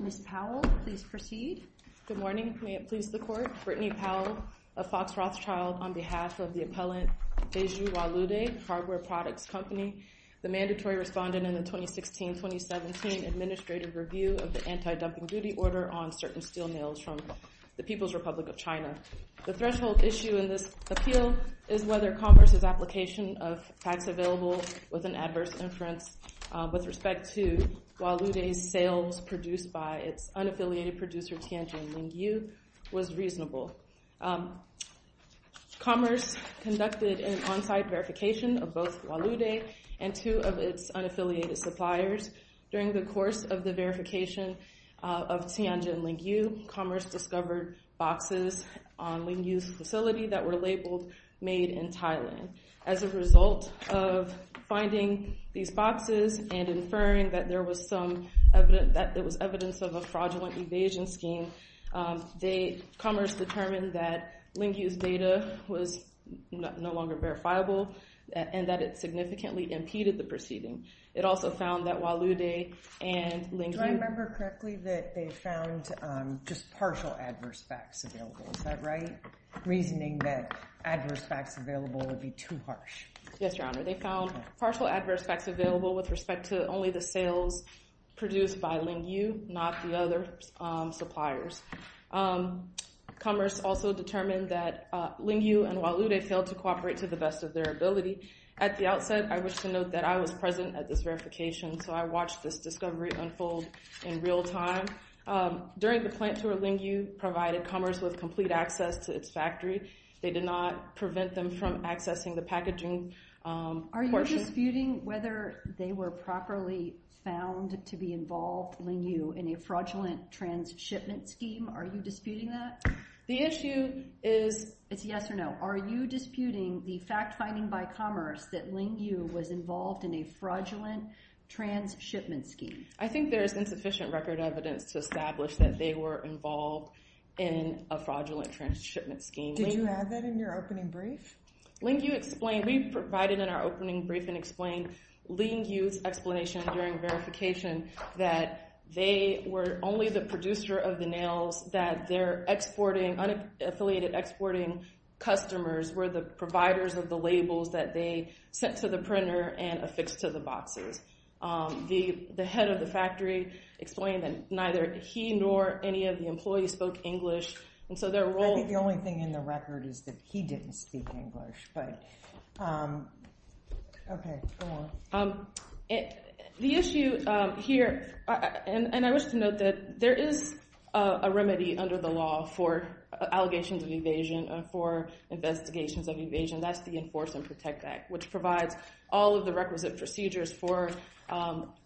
Ms. Powell, please proceed. Good morning. May it please the Court, Brittany Powell of Fox Rothschild on behalf of the appellant Beiju Walude, Hardware Products Company, the mandatory respondent in the 2016-2017 Administrative Review of the Anti-Dumping Duty Order on certain steel mills from the People's Republic of China. The threshold issue in this appeal is whether Commerce's application of facts available with an adverse inference with respect to Walude's sales produced by its unaffiliated producer Tianjin Lingyu was reasonable. Commerce conducted an on-site verification of both Walude and two of its unaffiliated suppliers. During the course of the verification of Tianjin Lingyu, Commerce discovered boxes on Lingyu's facility that were labeled made in Thailand. As a result of finding these boxes and inferring that there was evidence of a fraudulent evasion scheme, Commerce determined that Lingyu's data was no longer verifiable and that it significantly impeded the proceeding. It also found that Walude and Lingyu— Do I remember correctly that they found just partial adverse facts available? Is that right? Reasoning that adverse facts available would be too harsh. Yes, Your Honor. They found partial adverse facts available with respect to only the sales produced by Lingyu, not the other suppliers. Commerce also determined that Lingyu and Walude failed to cooperate to the best of their ability. At the outset, I wish to note that I was present at this verification, so I watched this discovery unfold in real time. During the plant tour, Lingyu provided Commerce with complete access to its factory. They did not prevent them from accessing the packaging portion— Are you disputing whether they were properly found to be involved, Lingyu, in a fraudulent trans-shipment scheme? Are you disputing that? The issue is— It's yes or no. Are you disputing the fact-finding by Commerce that Lingyu was involved in a fraudulent trans-shipment scheme? I think there is insufficient record evidence to establish that they were involved in a fraudulent trans-shipment scheme. Did you add that in your opening brief? Lingyu explained—We provided in our opening brief and explained Lingyu's explanation during verification that they were only the producer of the nails, that their unaffiliated exporting customers were the providers of the labels that they sent to the printer and affixed to the boxes. The head of the factory explained that neither he nor any of the employees spoke English, and so their role— I think the only thing in the record is that he didn't speak English, but okay, go on. The issue here—and I wish to note that there is a remedy under the law for allegations of evasion, for investigations of evasion, that's the Enforce and Protect Act, which provides all of the requisite procedures for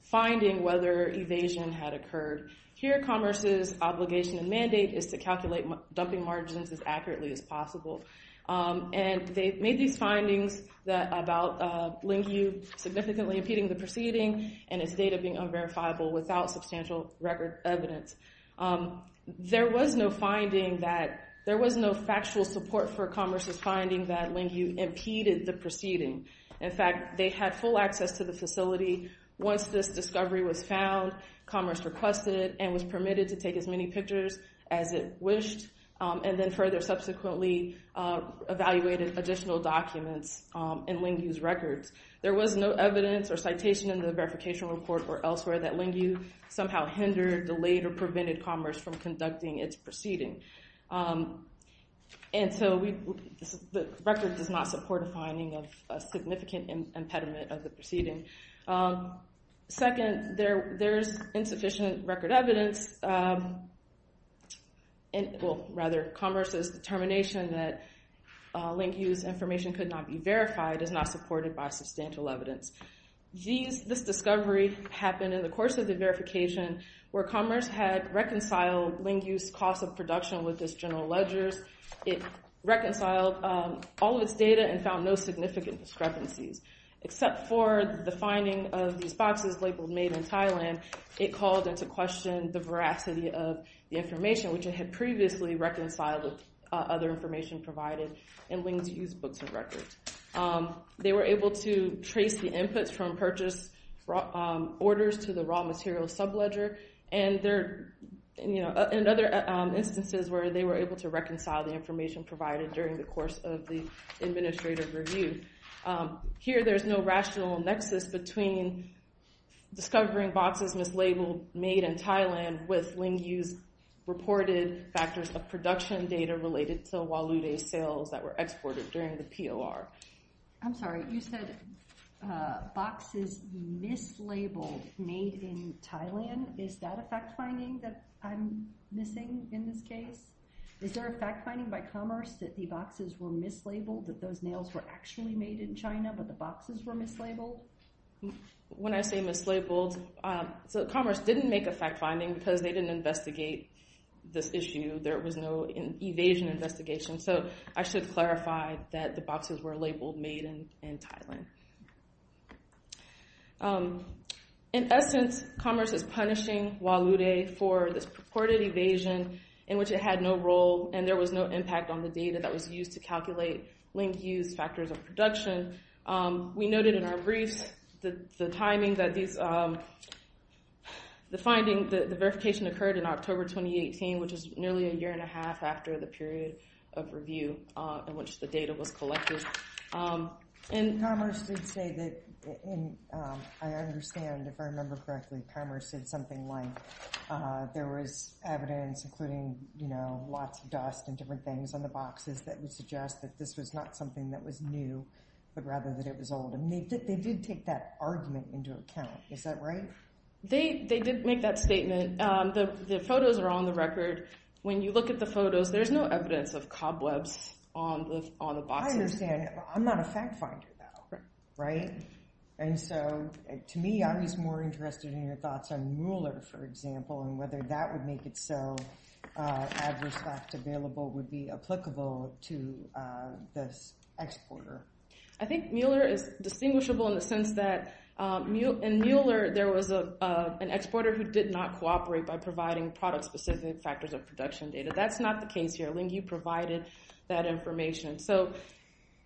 finding whether evasion had occurred. Here Commerce's obligation and mandate is to calculate dumping margins as accurately as possible, and they made these findings about Lingyu significantly impeding the proceeding and its data being unverifiable without substantial record evidence. There was no finding that—there was no factual support for Commerce's finding that Lingyu impeded the proceeding. In fact, they had full access to the facility. Once this discovery was found, Commerce requested it and was permitted to take as many pictures as it wished, and then further subsequently evaluated additional documents in Lingyu's records. There was no evidence or citation in the verification report or elsewhere that Lingyu somehow hindered, delayed, or prevented Commerce from conducting its proceeding. And so the record does not support a finding of a significant impediment of the proceeding. Second, there's insufficient record evidence—well, rather, Commerce's determination that Lingyu's information could not be verified is not supported by substantial evidence. This discovery happened in the course of the verification where Commerce had reconciled Lingyu's cost of production with its general ledgers. It reconciled all of its data and found no significant discrepancies, except for the finding of these boxes labeled Made in Thailand. It called into question the veracity of the information, which it had previously reconciled with other information provided in Lingyu's books and records. They were able to trace the inputs from purchase orders to the raw material subledger, and other instances where they were able to reconcile the information provided during the course of the administrative review. Here there's no rational nexus between discovering boxes mislabeled Made in Thailand with Lingyu's I'm sorry, you said boxes mislabeled Made in Thailand. Is that a fact-finding that I'm missing in this case? Is there a fact-finding by Commerce that the boxes were mislabeled, that those nails were actually made in China, but the boxes were mislabeled? When I say mislabeled, Commerce didn't make a fact-finding because they didn't investigate this issue. There was no evasion investigation. I should clarify that the boxes were labeled Made in Thailand. In essence, Commerce is punishing Hualude for this purported evasion in which it had no role, and there was no impact on the data that was used to calculate Lingyu's factors of production. We noted in our briefs the timing that these, the finding, the verification occurred in the administrative review in which the data was collected. And Commerce did say that, and I understand if I remember correctly, Commerce said something like there was evidence, including, you know, lots of dust and different things on the boxes that would suggest that this was not something that was new, but rather that it was old. And they did take that argument into account, is that right? They did make that statement. The photos are on the record. When you look at the photos, there's no evidence of cobwebs on the boxes. I understand. I'm not a fact-finder, though, right? And so, to me, I was more interested in your thoughts on Mueller, for example, and whether that would make it so adverse fact available would be applicable to this exporter. I think Mueller is distinguishable in the sense that in Mueller, there was an exporter who did not cooperate by providing product-specific factors of production data. That's not the case here. Lingu provided that information. So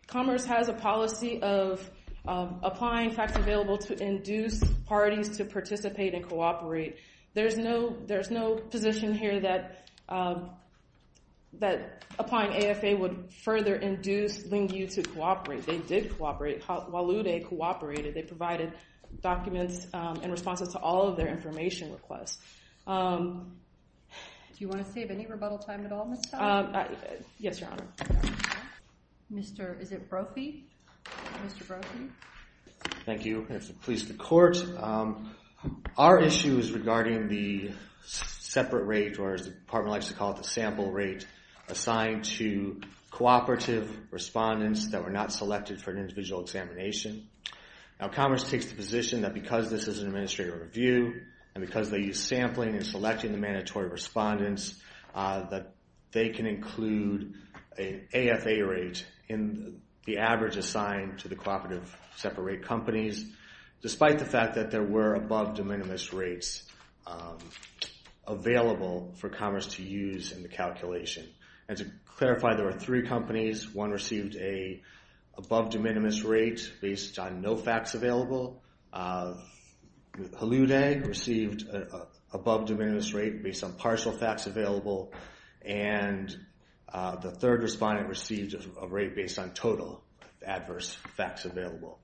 Commerce has a policy of applying facts available to induce parties to participate and cooperate. There's no position here that applying AFA would further induce Lingu to cooperate. They did cooperate. While Lude cooperated, they provided documents and responses to all of their information requests. Do you want to save any rebuttal time at all, Ms. Todd? Yes, Your Honor. Mr. Brophy? Mr. Brophy? Thank you. Police to court. Our issue is regarding the separate rate, or as the department likes to call it, the sample rate assigned to cooperative respondents that were not selected for an individual to conduct an examination. Now, Commerce takes the position that because this is an administrative review, and because they use sampling and selecting the mandatory respondents, that they can include an AFA rate in the average assigned to the cooperative separate rate companies, despite the fact that there were above de minimis rates available for Commerce to use in the calculation. And to clarify, there were three companies. One received an above de minimis rate based on no facts available. Lude received an above de minimis rate based on partial facts available, and the third respondent received a rate based on total adverse facts available.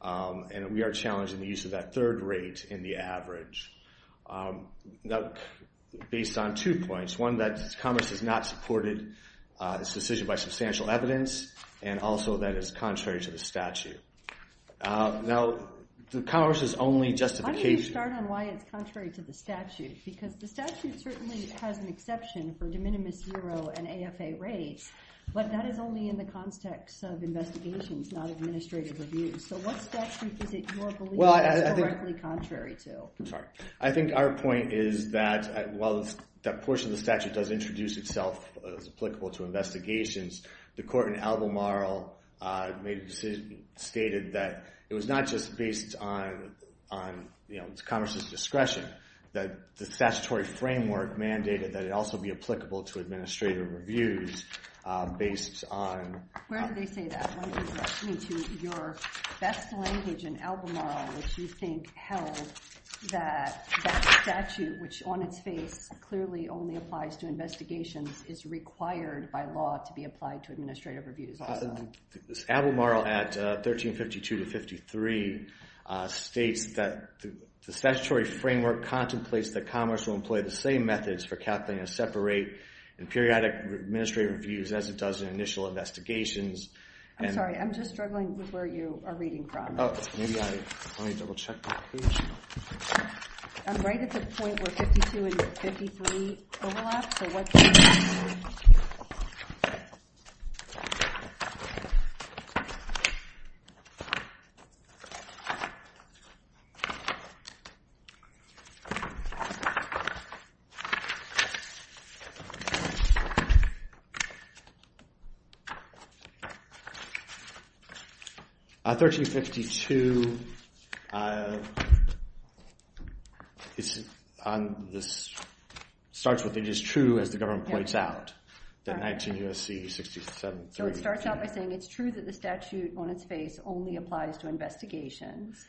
And we are challenging the use of that third rate in the average. Now, based on two points, one that Commerce has not supported this decision by substantial evidence, and also that it's contrary to the statute. Now, the Commerce's only justification... Why don't you start on why it's contrary to the statute? Because the statute certainly has an exception for de minimis, zero, and AFA rates, but that is only in the context of investigations, not administrative reviews. So what statute is it you're believing is correctly contrary to? I think our point is that while that portion of the statute does introduce itself as applicable to investigations, the court in Albemarle made a decision, stated that it was not just based on Commerce's discretion, that the statutory framework mandated that it also be applicable to administrative reviews based on... Where did they say that? I want you to direct me to your best language in Albemarle, which you think held that that statute, which on its face clearly only applies to investigations, is required by law to be applied to administrative reviews. Albemarle at 1352 to 53 states that the statutory framework contemplates that Commerce will employ the same methods for calculating a separate and periodic administrative reviews as it does in initial investigations. I'm sorry, I'm just struggling with where you are reading from. Oh, maybe I... Let me double check my page. I'm right at the point where 52 and 53 overlap, so what... 1352 starts with it is true, as the government points out, that 19 U.S.C. 67... So it starts out by saying it's true that the statute on its face only applies to investigations,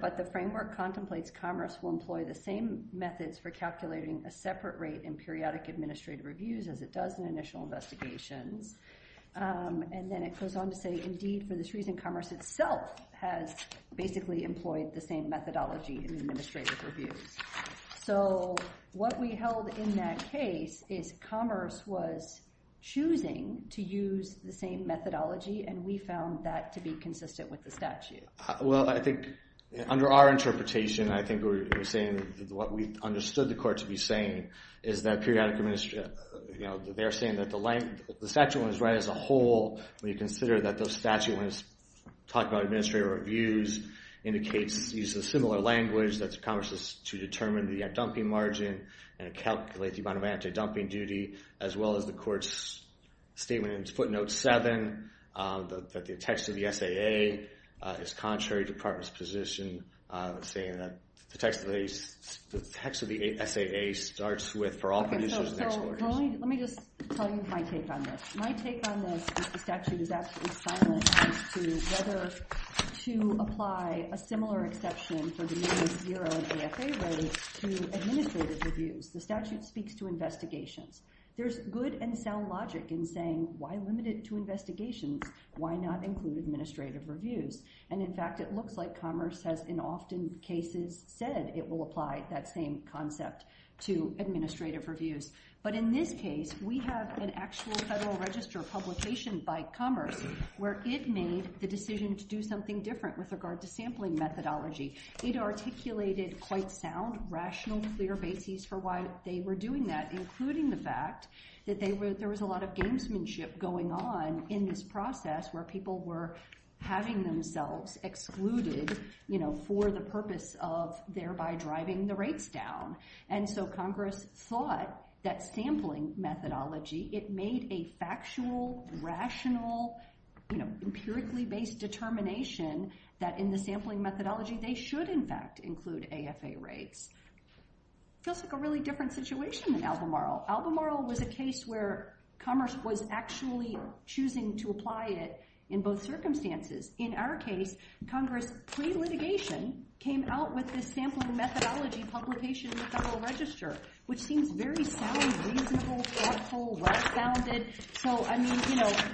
but the framework contemplates Commerce will employ the same methods for calculating a And then it goes on to say, indeed, for this reason, Commerce itself has basically employed the same methodology in administrative reviews. So what we held in that case is Commerce was choosing to use the same methodology, and we found that to be consistent with the statute. Well, I think under our interpretation, I think we're saying what we understood the The statute was right as a whole when you consider that the statute when it's talked about administrative reviews indicates, uses a similar language, that Commerce is to determine the dumping margin and calculate the amount of anti-dumping duty, as well as the court's statement in footnote 7, that the text of the SAA is contrary to the Department's position saying that the text of the SAA starts with, for all conditions... Let me just tell you my take on this. My take on this is the statute is absolutely silent as to whether to apply a similar exception for the minimum zero and AFA rate to administrative reviews. The statute speaks to investigations. There's good and sound logic in saying, why limit it to investigations? Why not include administrative reviews? And in fact, it looks like Commerce has, in often cases, said it will apply that same concept to administrative reviews. But in this case, we have an actual Federal Register publication by Commerce where it made the decision to do something different with regard to sampling methodology. It articulated quite sound, rational, clear bases for why they were doing that, including the fact that there was a lot of gamesmanship going on in this process where people were having themselves excluded for the purpose of thereby driving the rates down. And so Congress thought that sampling methodology, it made a factual, rational, empirically based determination that in the sampling methodology, they should in fact include AFA rates. It feels like a really different situation than Albemarle. Albemarle was a case where Commerce was actually choosing to apply it in both circumstances. In our case, Congress, pre-litigation, came out with this sampling methodology publication in the Federal Register, which seems very sound, reasonable, thoughtful, well-founded. So I mean,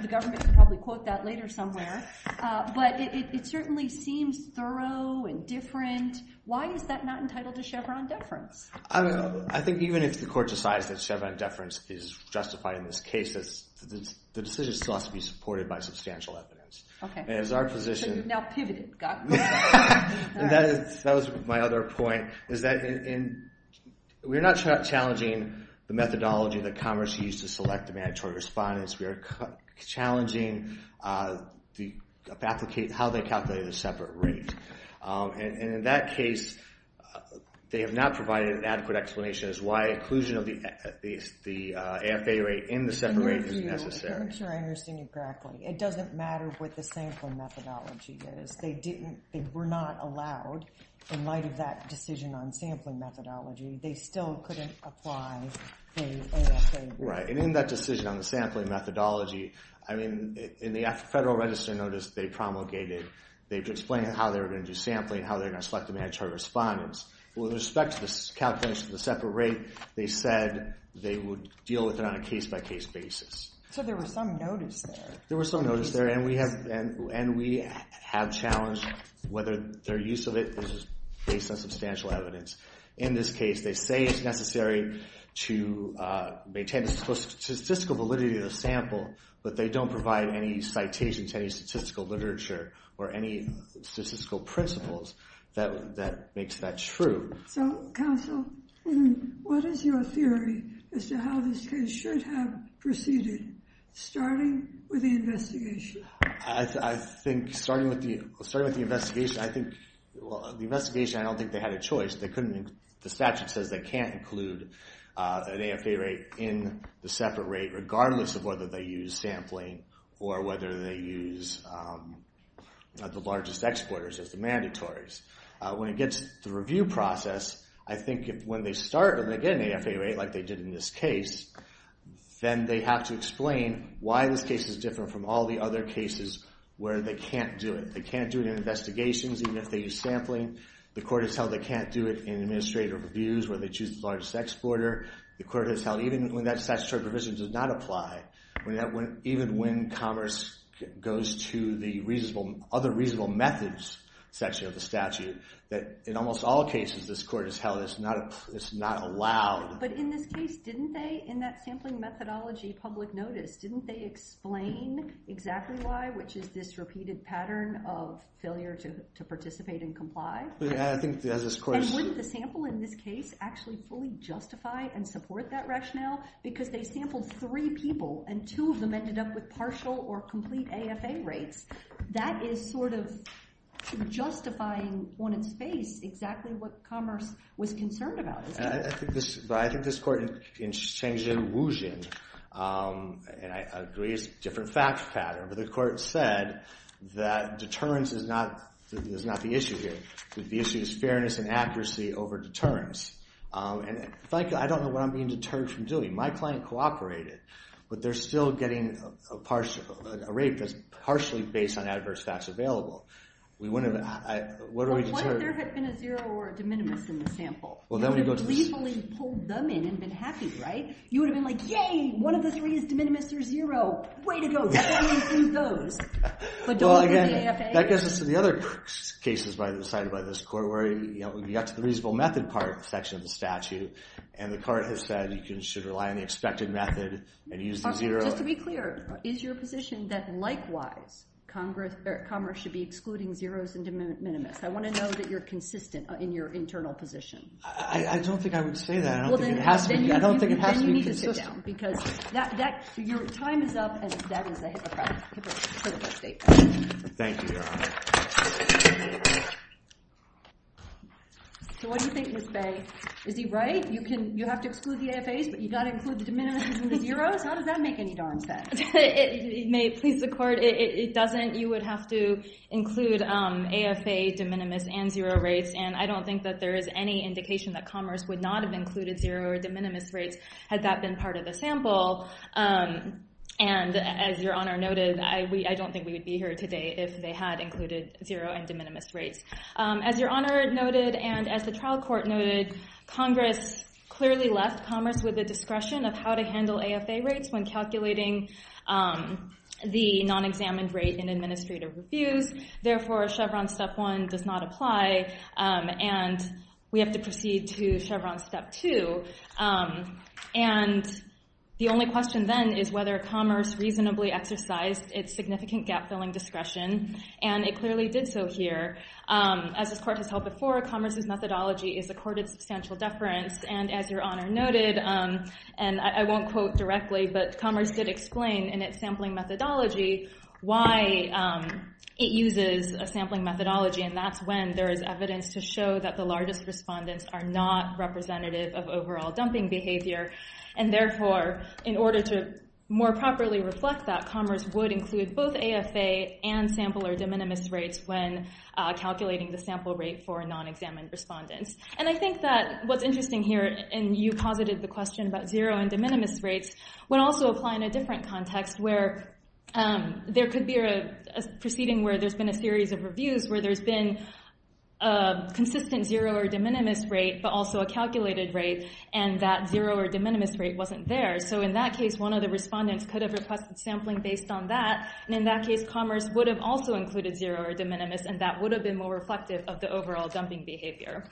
the government could probably quote that later somewhere. But it certainly seems thorough and different. Why is that not entitled to Chevron deference? I think even if the court decides that Chevron deference is justified in this case, the decision still has to be supported by substantial evidence. So you've now pivoted. That was my other point. We're not challenging the methodology that Commerce used to select the mandatory respondents. We are challenging how they calculated a separate rate. And in that case, they have not provided an adequate explanation as to why inclusion of the AFA rate in the separate rate is necessary. I'm sure I understand you correctly. It doesn't matter what the sampling methodology is. They were not allowed in light of that decision on sampling methodology. They still couldn't apply the AFA rate. Right. And in that decision on the sampling methodology, I mean, in the Federal Register notice they promulgated, they explained how they were going to do sampling, how they were going to select the mandatory respondents. With respect to this calculation of the separate rate, they said they would deal with it on a case-by-case basis. So there was some notice there. There was some notice there. And we have challenged whether their use of it is based on substantial evidence. In this case, they say it's necessary to maintain the statistical validity of the sample, but they don't provide any citations, any statistical literature, or any statistical principles that makes that true. So, counsel, what is your theory as to how this case should have proceeded, starting with the investigation? I think starting with the investigation, I don't think they had a choice. The statute says they can't include an AFA rate in the separate rate, regardless of whether they use sampling or whether they use the largest exporters as the mandatories. When it gets to the review process, I think when they start and they get an AFA rate like they did in this case, then they have to explain why this case is different from all the other cases where they can't do it. They can't do it in investigations, even if they use sampling. The court has held they can't do it in administrative reviews where they choose the largest exporter. The court has held even when that statutory provision does not apply, even when commerce goes to the other reasonable methods section of the statute, that in almost all cases this court has held it's not allowed. But in this case, didn't they, in that sampling methodology public notice, didn't they explain exactly why, which is this repeated pattern of failure to participate and comply? Yeah, I think as this court... And wouldn't the sample in this case actually fully justify and support that rationale? Because they sampled three people and two of them ended up with partial or complete AFA rates. That is sort of justifying on its face exactly what commerce was concerned about, isn't it? I think this court in Shengzhen, Wuzhen, and I agree it's a different fact pattern, but the court said that deterrence is not the issue here. The issue is fairness and accuracy over deterrence. And I don't know what I'm being deterred from doing. My client cooperated, but they're still getting a rate that's partially based on adverse facts available. We wouldn't have... What are we deterred... Well, what if there had been a zero or a de minimis in the sample? You would have lethally pulled them in and been happy, right? You would have been like, yay, one of the three is de minimis, there's zero. Way to go. That's why we sued those. Well, again, that gets us to the other cases cited by this court where we got the reasonable method part section of the statute, and the court has said you should rely on the expected method and use the zero. Just to be clear, is your position that likewise commerce should be excluding zeros and de minimis? I want to know that you're consistent in your internal position. I don't think I would say that. I don't think it has to be consistent. Then you need to sit down, because your time is up, and that is a hypocritical statement. Thank you, Your Honor. So what do you think, Ms. Bay? Is he right? You have to exclude the AFAs, but you've got to include the de minimis and the zeros? How does that make any darn sense? It may please the court. It doesn't. You would have to include AFA, de minimis, and zero rates, and I don't think that there is any indication that commerce would not have included zero or de minimis rates had that been part of the sample. And as Your Honor noted, I don't think we would be here today if they had included zero and de minimis rates. As Your Honor noted, and as the trial court noted, Congress clearly left commerce with a discretion of how to handle AFA rates when calculating the non-examined rate in administrative reviews. Therefore, Chevron Step 1 does not apply, and we have to proceed to Chevron Step 2. And the only question then is whether commerce reasonably exercised its significant gap-filling discretion, and it clearly did so here. As this court has held before, commerce's methodology is accorded substantial deference, and as Your Honor noted, and I won't quote directly, but commerce did explain in its sampling methodology why it uses a sampling methodology, and that's when there is evidence to show that the largest respondents are not representative of overall dumping behavior. And therefore, in order to more properly reflect that, it does not apply to zero and sample or de minimis rates when calculating the sample rate for non-examined respondents. And I think that what's interesting here, and you posited the question about zero and de minimis rates, would also apply in a different context where there could be a proceeding where there's been a series of reviews where there's been a consistent zero or de minimis rate, but also a calculated rate, and that zero or de minimis rate wasn't there. So in that case, one of the respondents could have requested sampling based on that, and in that case, commerce would have also included zero or de minimis, and that would have been more reflective of the overall dumping behavior.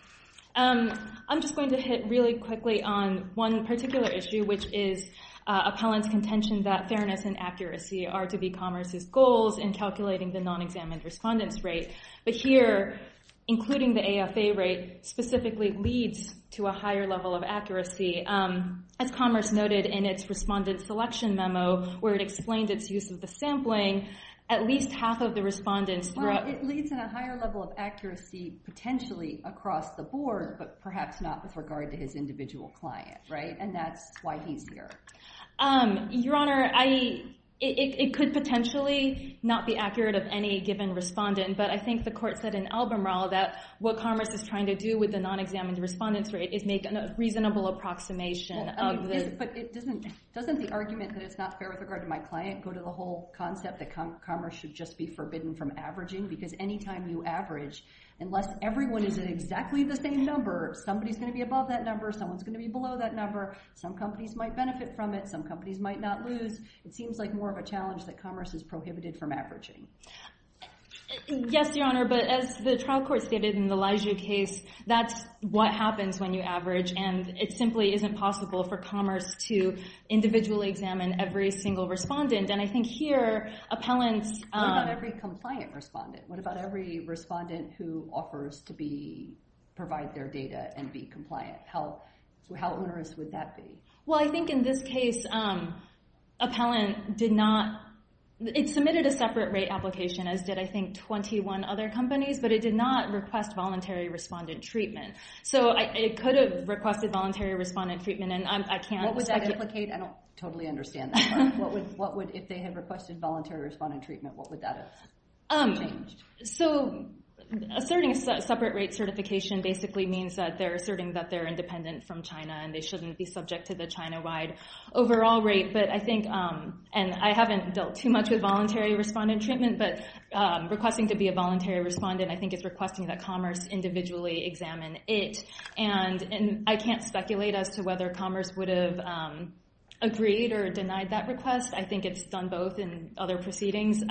I'm just going to hit really quickly on one particular issue, which is appellant's contention that fairness and accuracy are to be commerce's goals in calculating the non-examined respondent's rate. But here, including the AFA rate specifically leads to a higher level of accuracy. As commerce noted in its respondent selection memo, where it explained its use of the sampling, at least half of the respondents... Well, it leads to a higher level of accuracy potentially across the board, but perhaps not with regard to his individual client, right? And that's why he's here. Your Honor, I... It could potentially not be accurate of any given respondent, but I think the court said in Albemarle that what commerce is trying to do with the non-examined respondent's rate is make a reasonable approximation of the... But doesn't the argument that it's not fair with regard to my client go to the whole concept that commerce should just be forbidden from averaging? Because any time you average, unless everyone is at exactly the same number, somebody's going to be above that number, someone's going to be below that number, some companies might benefit from it, some companies might not lose. It seems like more of a challenge that commerce is prohibited from averaging. Yes, Your Honor, but as the trial court stated in the Laiju case, that's what happens when you average, and it simply isn't possible for commerce to individually examine every single respondent. And I think here, appellants... What about every compliant respondent? What about every respondent who offers to be... provide their data and be compliant? How onerous would that be? Well, I think in this case, appellant did not... It submitted a separate rate application, as did, I think, 21 other companies, but it did not request voluntary respondent treatment. So it could have requested voluntary respondent treatment, and I can't... What would that implicate? I don't totally understand that part. If they had requested voluntary respondent treatment, what would that have changed? Asserting a separate rate certification basically means that they're asserting that they're independent from China and they shouldn't be subject to the China-wide overall rate. And I haven't dealt too much with voluntary respondent treatment, but requesting to be a voluntary respondent, I think it's requesting that Commerce individually examine it. And I can't speculate as to whether Commerce would have agreed or denied that request. I think it's done both in other proceedings.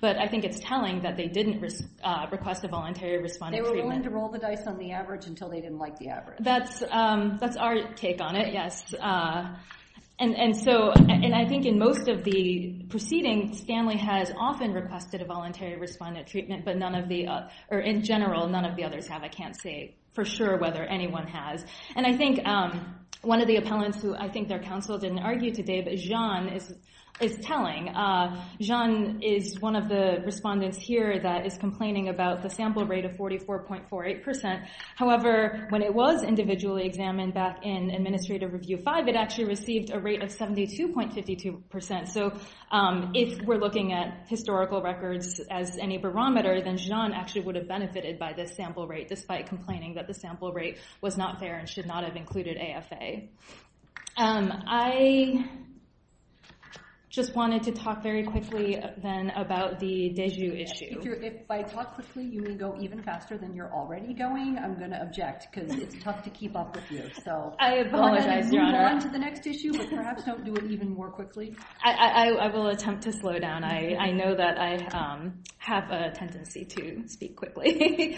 But I think it's telling that they didn't request a voluntary respondent treatment. They were willing to roll the dice on the average until they didn't like the average. That's our take on it, yes. And so... And I think in most of the proceedings, Stanley has often requested a voluntary respondent treatment, but in general, none of the others have. I can't say for sure whether anyone has. And I think one of the appellants who I think their counsel didn't argue today, but Zhan, is telling. Zhan is one of the respondents here that is complaining about the sample rate of 44.48%. However, when it was individually examined back in Administrative Review 5, it actually received a rate of 72.52%. So, if we're looking at historical records as any barometer, then Zhan actually would have benefited by the sample rate despite complaining that the sample rate was not fair and should not have included AFA. I... just wanted to talk very quickly then about the de jure issue. If I talk quickly, you may go even faster than you're already going. I'm going to object, because it's tough to keep up with you. I apologize, Your Honor. Perhaps don't do it even more quickly. I will attempt to slow down. I know that I have a tendency to speak quickly.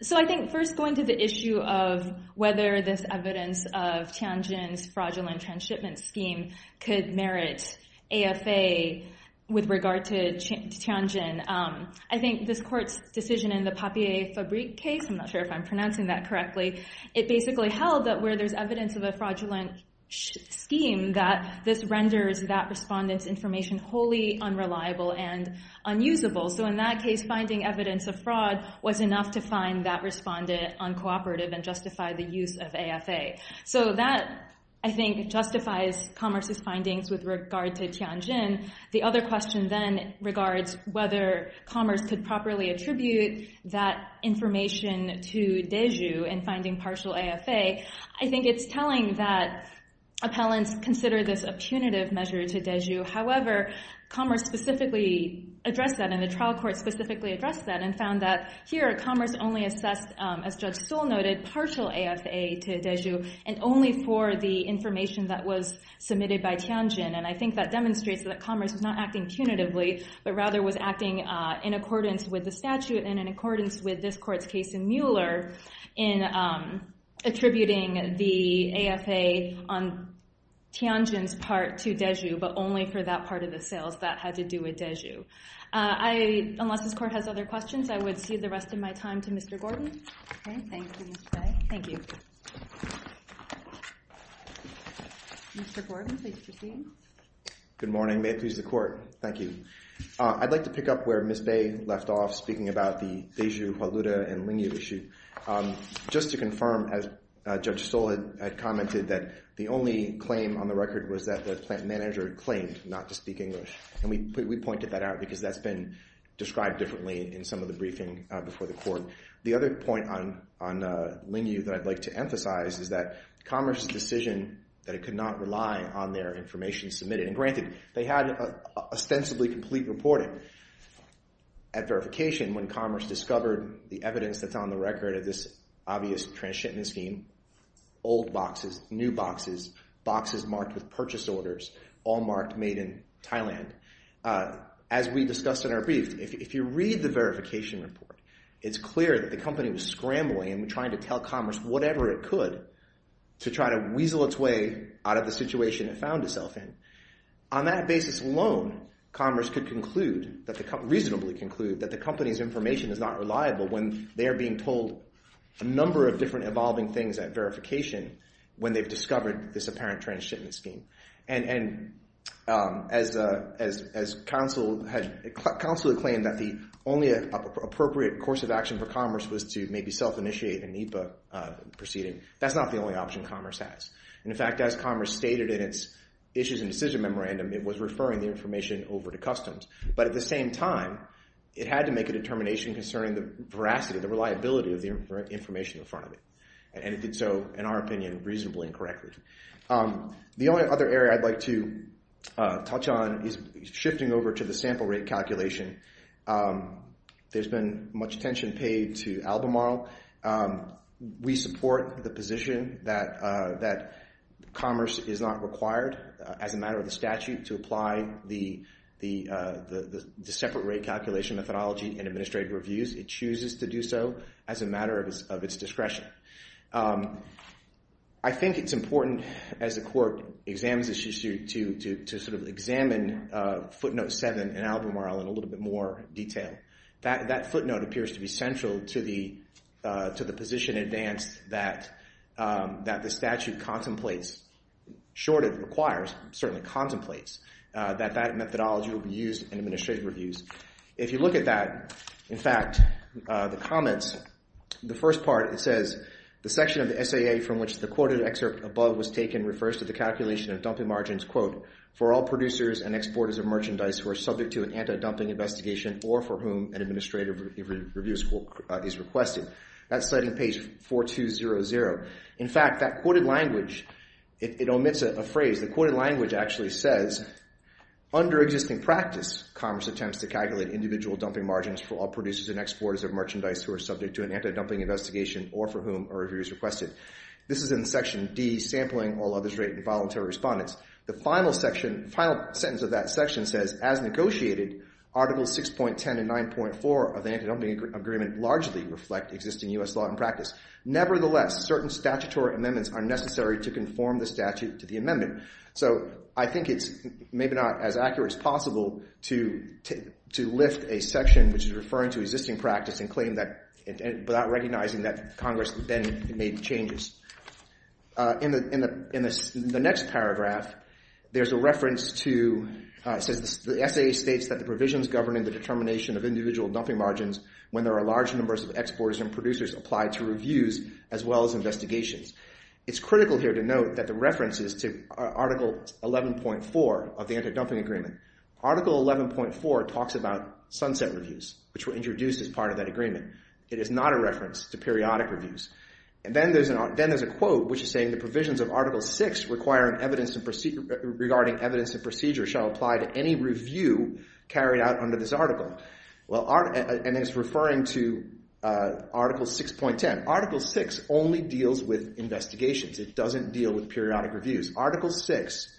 So, I think first going to the issue of whether this evidence of Tianjin's fraudulent transshipment scheme could merit AFA with regard to Tianjin. I think this court's decision in the Papier Fabrique case, I'm not sure if I'm well, that where there's evidence of a fraudulent scheme, that this renders that respondent's information wholly unreliable and unusable. So in that case, finding evidence of fraud was enough to find that respondent uncooperative and justify the use of AFA. So that, I think, justifies Commerce's findings with regard to Tianjin. The other question then regards whether Commerce could properly attribute that information to partial AFA. I think it's telling that appellants consider this a punitive measure to Deju. However, Commerce specifically addressed that, and the trial court specifically addressed that, and found that here Commerce only assessed, as Judge Stoll noted, partial AFA to Deju and only for the information that was submitted by Tianjin. And I think that demonstrates that Commerce was not acting punitively, but rather was acting in accordance with the statute and in accordance with this court's case in attributing the AFA on Tianjin's part to Deju, but only for that part of the sales that had to do with Deju. Unless this court has other questions, I would cede the rest of my time to Mr. Gordon. Thank you, Ms. Bae. Thank you. Mr. Gordon, pleased to see you. Good morning. May it please the court. Thank you. I'd like to pick up where Ms. Bae left off, speaking about the Deju, Hualuda, and Lingyu issue. Just to confirm, as Judge Stoll had commented, that the only claim on the record was that the plant manager claimed not to speak English. And we pointed that out because that's been described differently in some of the briefing before the court. The other point on Lingyu that I'd like to emphasize is that Commerce's decision that it could not rely on their information submitted and granted, they had ostensibly complete reporting at verification when Commerce discovered the evidence that's on the record of this obvious transshipment scheme. Old boxes, new boxes, boxes marked with purchase orders, all marked made in Thailand. As we discussed in our brief, if you read the verification report, it's clear that the company was scrambling and trying to tell Commerce whatever it could to try to weasel its way out of the situation it found itself in. On that basis alone, Commerce could reasonably conclude that the company's information is not reliable when they're being told a number of different evolving things at verification when they've discovered this apparent transshipment scheme. And as counsel had claimed that the only appropriate course of action for Commerce was to maybe self-initiate an IPA proceeding, that's not the only option Commerce has. In fact, as Commerce stated in its issues and decision memorandum, it was referring the information over to and in time, it had to make a determination concerning the veracity, the reliability of the information in front of it. And it did so, in our opinion, reasonably and correctly. The only other area I'd like to touch on is shifting over to the sample rate calculation. There's been much attention paid to Albemarle. We support the position that Commerce is not required as a matter of the statute to apply the separate rate calculation methodology in administrative reviews. It chooses to do so as a matter of its discretion. I think it's important as the court examines this issue to sort of examine footnote 7 in Albemarle in a little bit more detail. That footnote appears to be central to the position advanced that the statute contemplates short it requires certainly contemplates that that methodology will be used in administrative reviews. If you look at that in fact, the comments the first part, it says the section of the SAA from which the quoted excerpt above was taken refers to the calculation of dumping margins for all producers and exporters of merchandise who are subject to an anti-dumping investigation or for whom an administrative review is requested. That's citing page 4200. In fact, that quoted language omits a phrase. The quoted language actually says under existing practice Congress attempts to calculate individual dumping margins for all producers and exporters of merchandise who are subject to an anti-dumping investigation or for whom a review is requested. This is in section D, sampling all others rated and voluntary respondents. The final sentence of that section says as negotiated, articles 6.10 and 9.4 of the anti-dumping agreement largely reflect existing U.S. law and practice. Nevertheless, certain statutory amendments are necessary to conform the statute to the amendment. So, I think it's maybe not as accurate as possible to lift a section which is referring to existing practice and claim that without recognizing that Congress then made changes. In the next paragraph, there's a reference to the SAA states that the provisions governing the determination of individual dumping margins when there are large numbers of exporters and producers apply to reviews as well as investigations. It's critical here to note that the references to article 11.4 of the anti-dumping agreement. Article 11.4 talks about sunset reviews which were introduced as part of that agreement. It is not a reference to periodic reviews. And then there's a quote which is saying the provisions of article 6 regarding evidence and procedure shall apply to any review carried out under this article. And it's referring to article 6.10. Article 6 only deals with investigations. It doesn't deal with periodic reviews. Article 6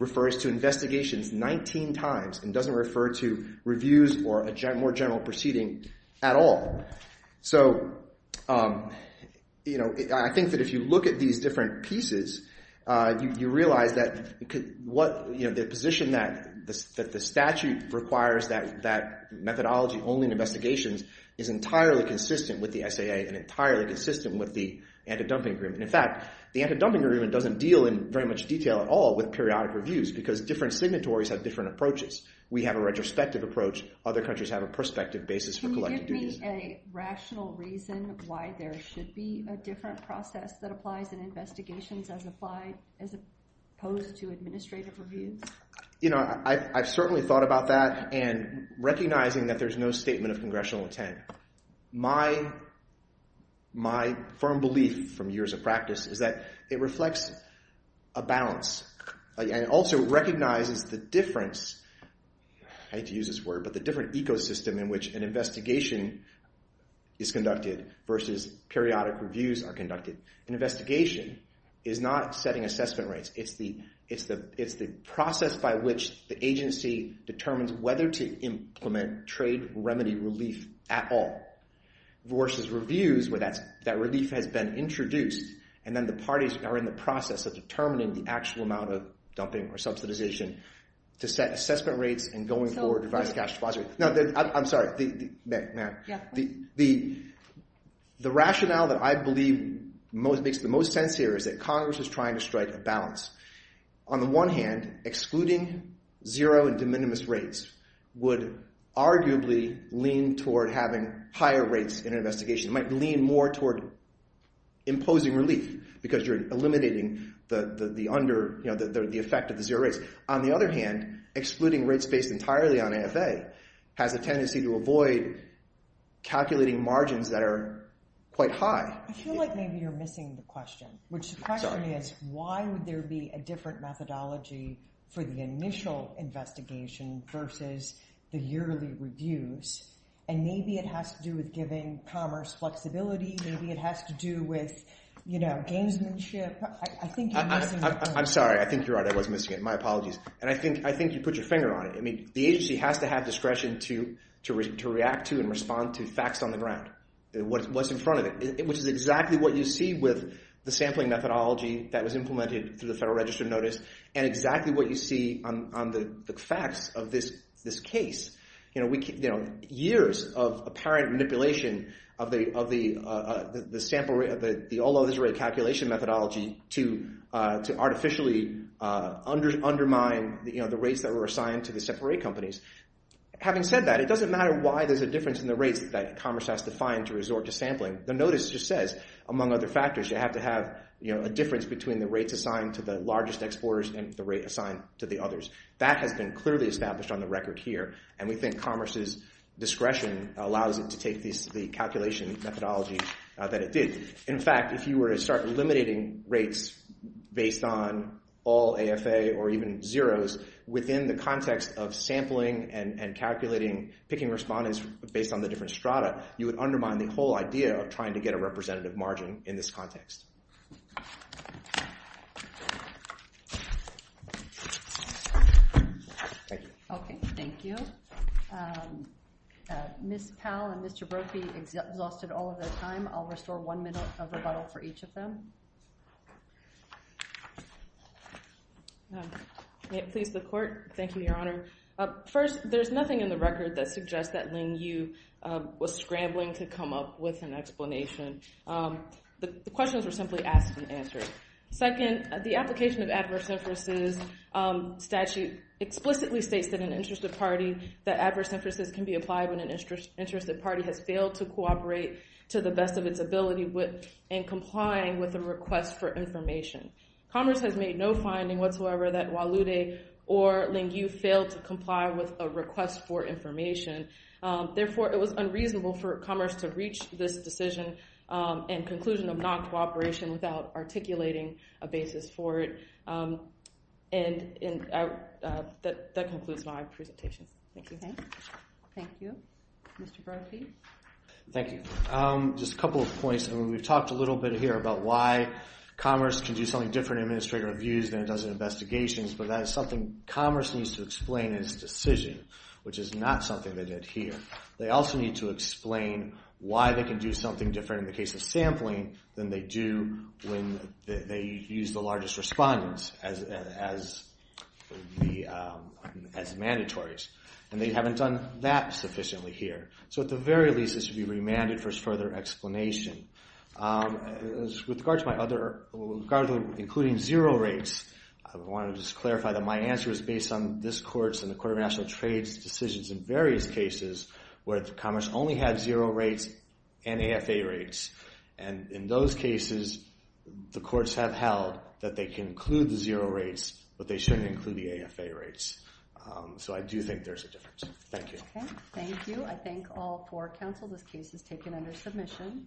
refers to investigations 19 times and doesn't refer to reviews or a more general proceeding at all. So, I think that if you look at these different pieces, you realize that the position that the statute requires that is entirely consistent with the SAA and entirely consistent with the anti-dumping agreement. In fact, the anti-dumping agreement doesn't deal in very much detail at all with periodic reviews because different signatories have different approaches. We have a retrospective approach. Other countries have a prospective basis for collective reviews. Can you give me a rational reason why there should be a different process that applies in investigations as opposed to administrative reviews? You know, I've certainly thought about that and recognizing that there's no statement of congressional intent. My firm belief from years of practice is that it reflects a balance and also recognizes the difference I hate to use this word but the different ecosystem in which an investigation is conducted versus periodic reviews are conducted. An investigation is not setting assessment rates. It's the process by which the agency determines whether to implement trade remedy relief at all versus reviews where that relief has been introduced and then the parties are in the process of determining the actual amount of dumping or subsidization to set assessment rates and going forward to revise cash depository. No, I'm sorry. The rationale that I believe makes the most sense here is that Congress is trying to strike a balance. On the one hand, excluding zero and de minimis rates would arguably lean toward having higher rates in an investigation. It might lean more toward imposing relief because you're eliminating the effect of the zero rates. On the other hand, excluding rates based entirely on AFA has a tendency to avoid calculating margins that are quite high. I feel like maybe you're missing the question which the question is why would there be a different methodology for the initial investigation versus the yearly reviews and maybe it has to do with giving commerce flexibility maybe it has to do with gamesmanship. I'm sorry. I think you're right. I was missing it. My apologies. I think you put your finger on it. The agency has to have discretion to react to and respond to facts on the ground what's in front of it which is exactly what you see with the Federal Register notice and exactly what you see on the facts of this case. Years of apparent manipulation of the sample rate calculation methodology to artificially undermine the rates that were assigned to the separate companies. Having said that, it doesn't matter why there's a difference in the rates that commerce has to find to resort to sampling. The notice just says among other factors you have to have a difference between the rates assigned to the largest exporters and the rate assigned to the others. That has been clearly established on the record here and we think commerce's discretion allows it to take the calculation methodology that it did. In fact, if you were to start eliminating rates based on all AFA or even zeros within the context of sampling and based on the different strata, you would undermine the whole idea of trying to get a representative margin in this context. Okay, thank you. Ms. Powell and Mr. Brophy exhausted all of their time. I'll restore one minute of rebuttal for each of them. May it please the Court. Thank you, Your Honor. First, there's nothing in the record that suggests that Ling Yu was scrambling to come up with an explanation. The questions were simply asked and answered. Second, the application of adverse inferences statute explicitly states that an interested party that adverse inferences can be applied when an interested party has failed to cooperate to the best of its ability and complying with a request for information. Commerce has made no finding whatsoever that Walude or Ling Yu failed to comply with a request for information. Therefore, it was unreasonable for Commerce to reach this decision and conclusion of non-cooperation without articulating a basis for it. And that concludes my presentation. Thank you. Mr. Brophy. Thank you. Just a couple of points. We've talked a little bit here about why Commerce can do something different in administrative reviews than it does in investigations, but that is something Commerce needs to explain in its decision, which is not something they did here. They also need to explain why they can do something different in the case of sampling than they do when they use the largest respondents as mandatories. And they haven't done that sufficiently here. So at the very least, this should be remanded for further explanation. With regard to my other including zero rates, I want to just clarify that my answer is based on this Court's and the Commission's cases where Commerce only had zero rates and AFA rates. And in those cases, the Courts have held that they can include the zero rates but they shouldn't include the AFA rates. So I do think there's a difference. Thank you. Thank you. I thank all four counsel. This case is taken under submission.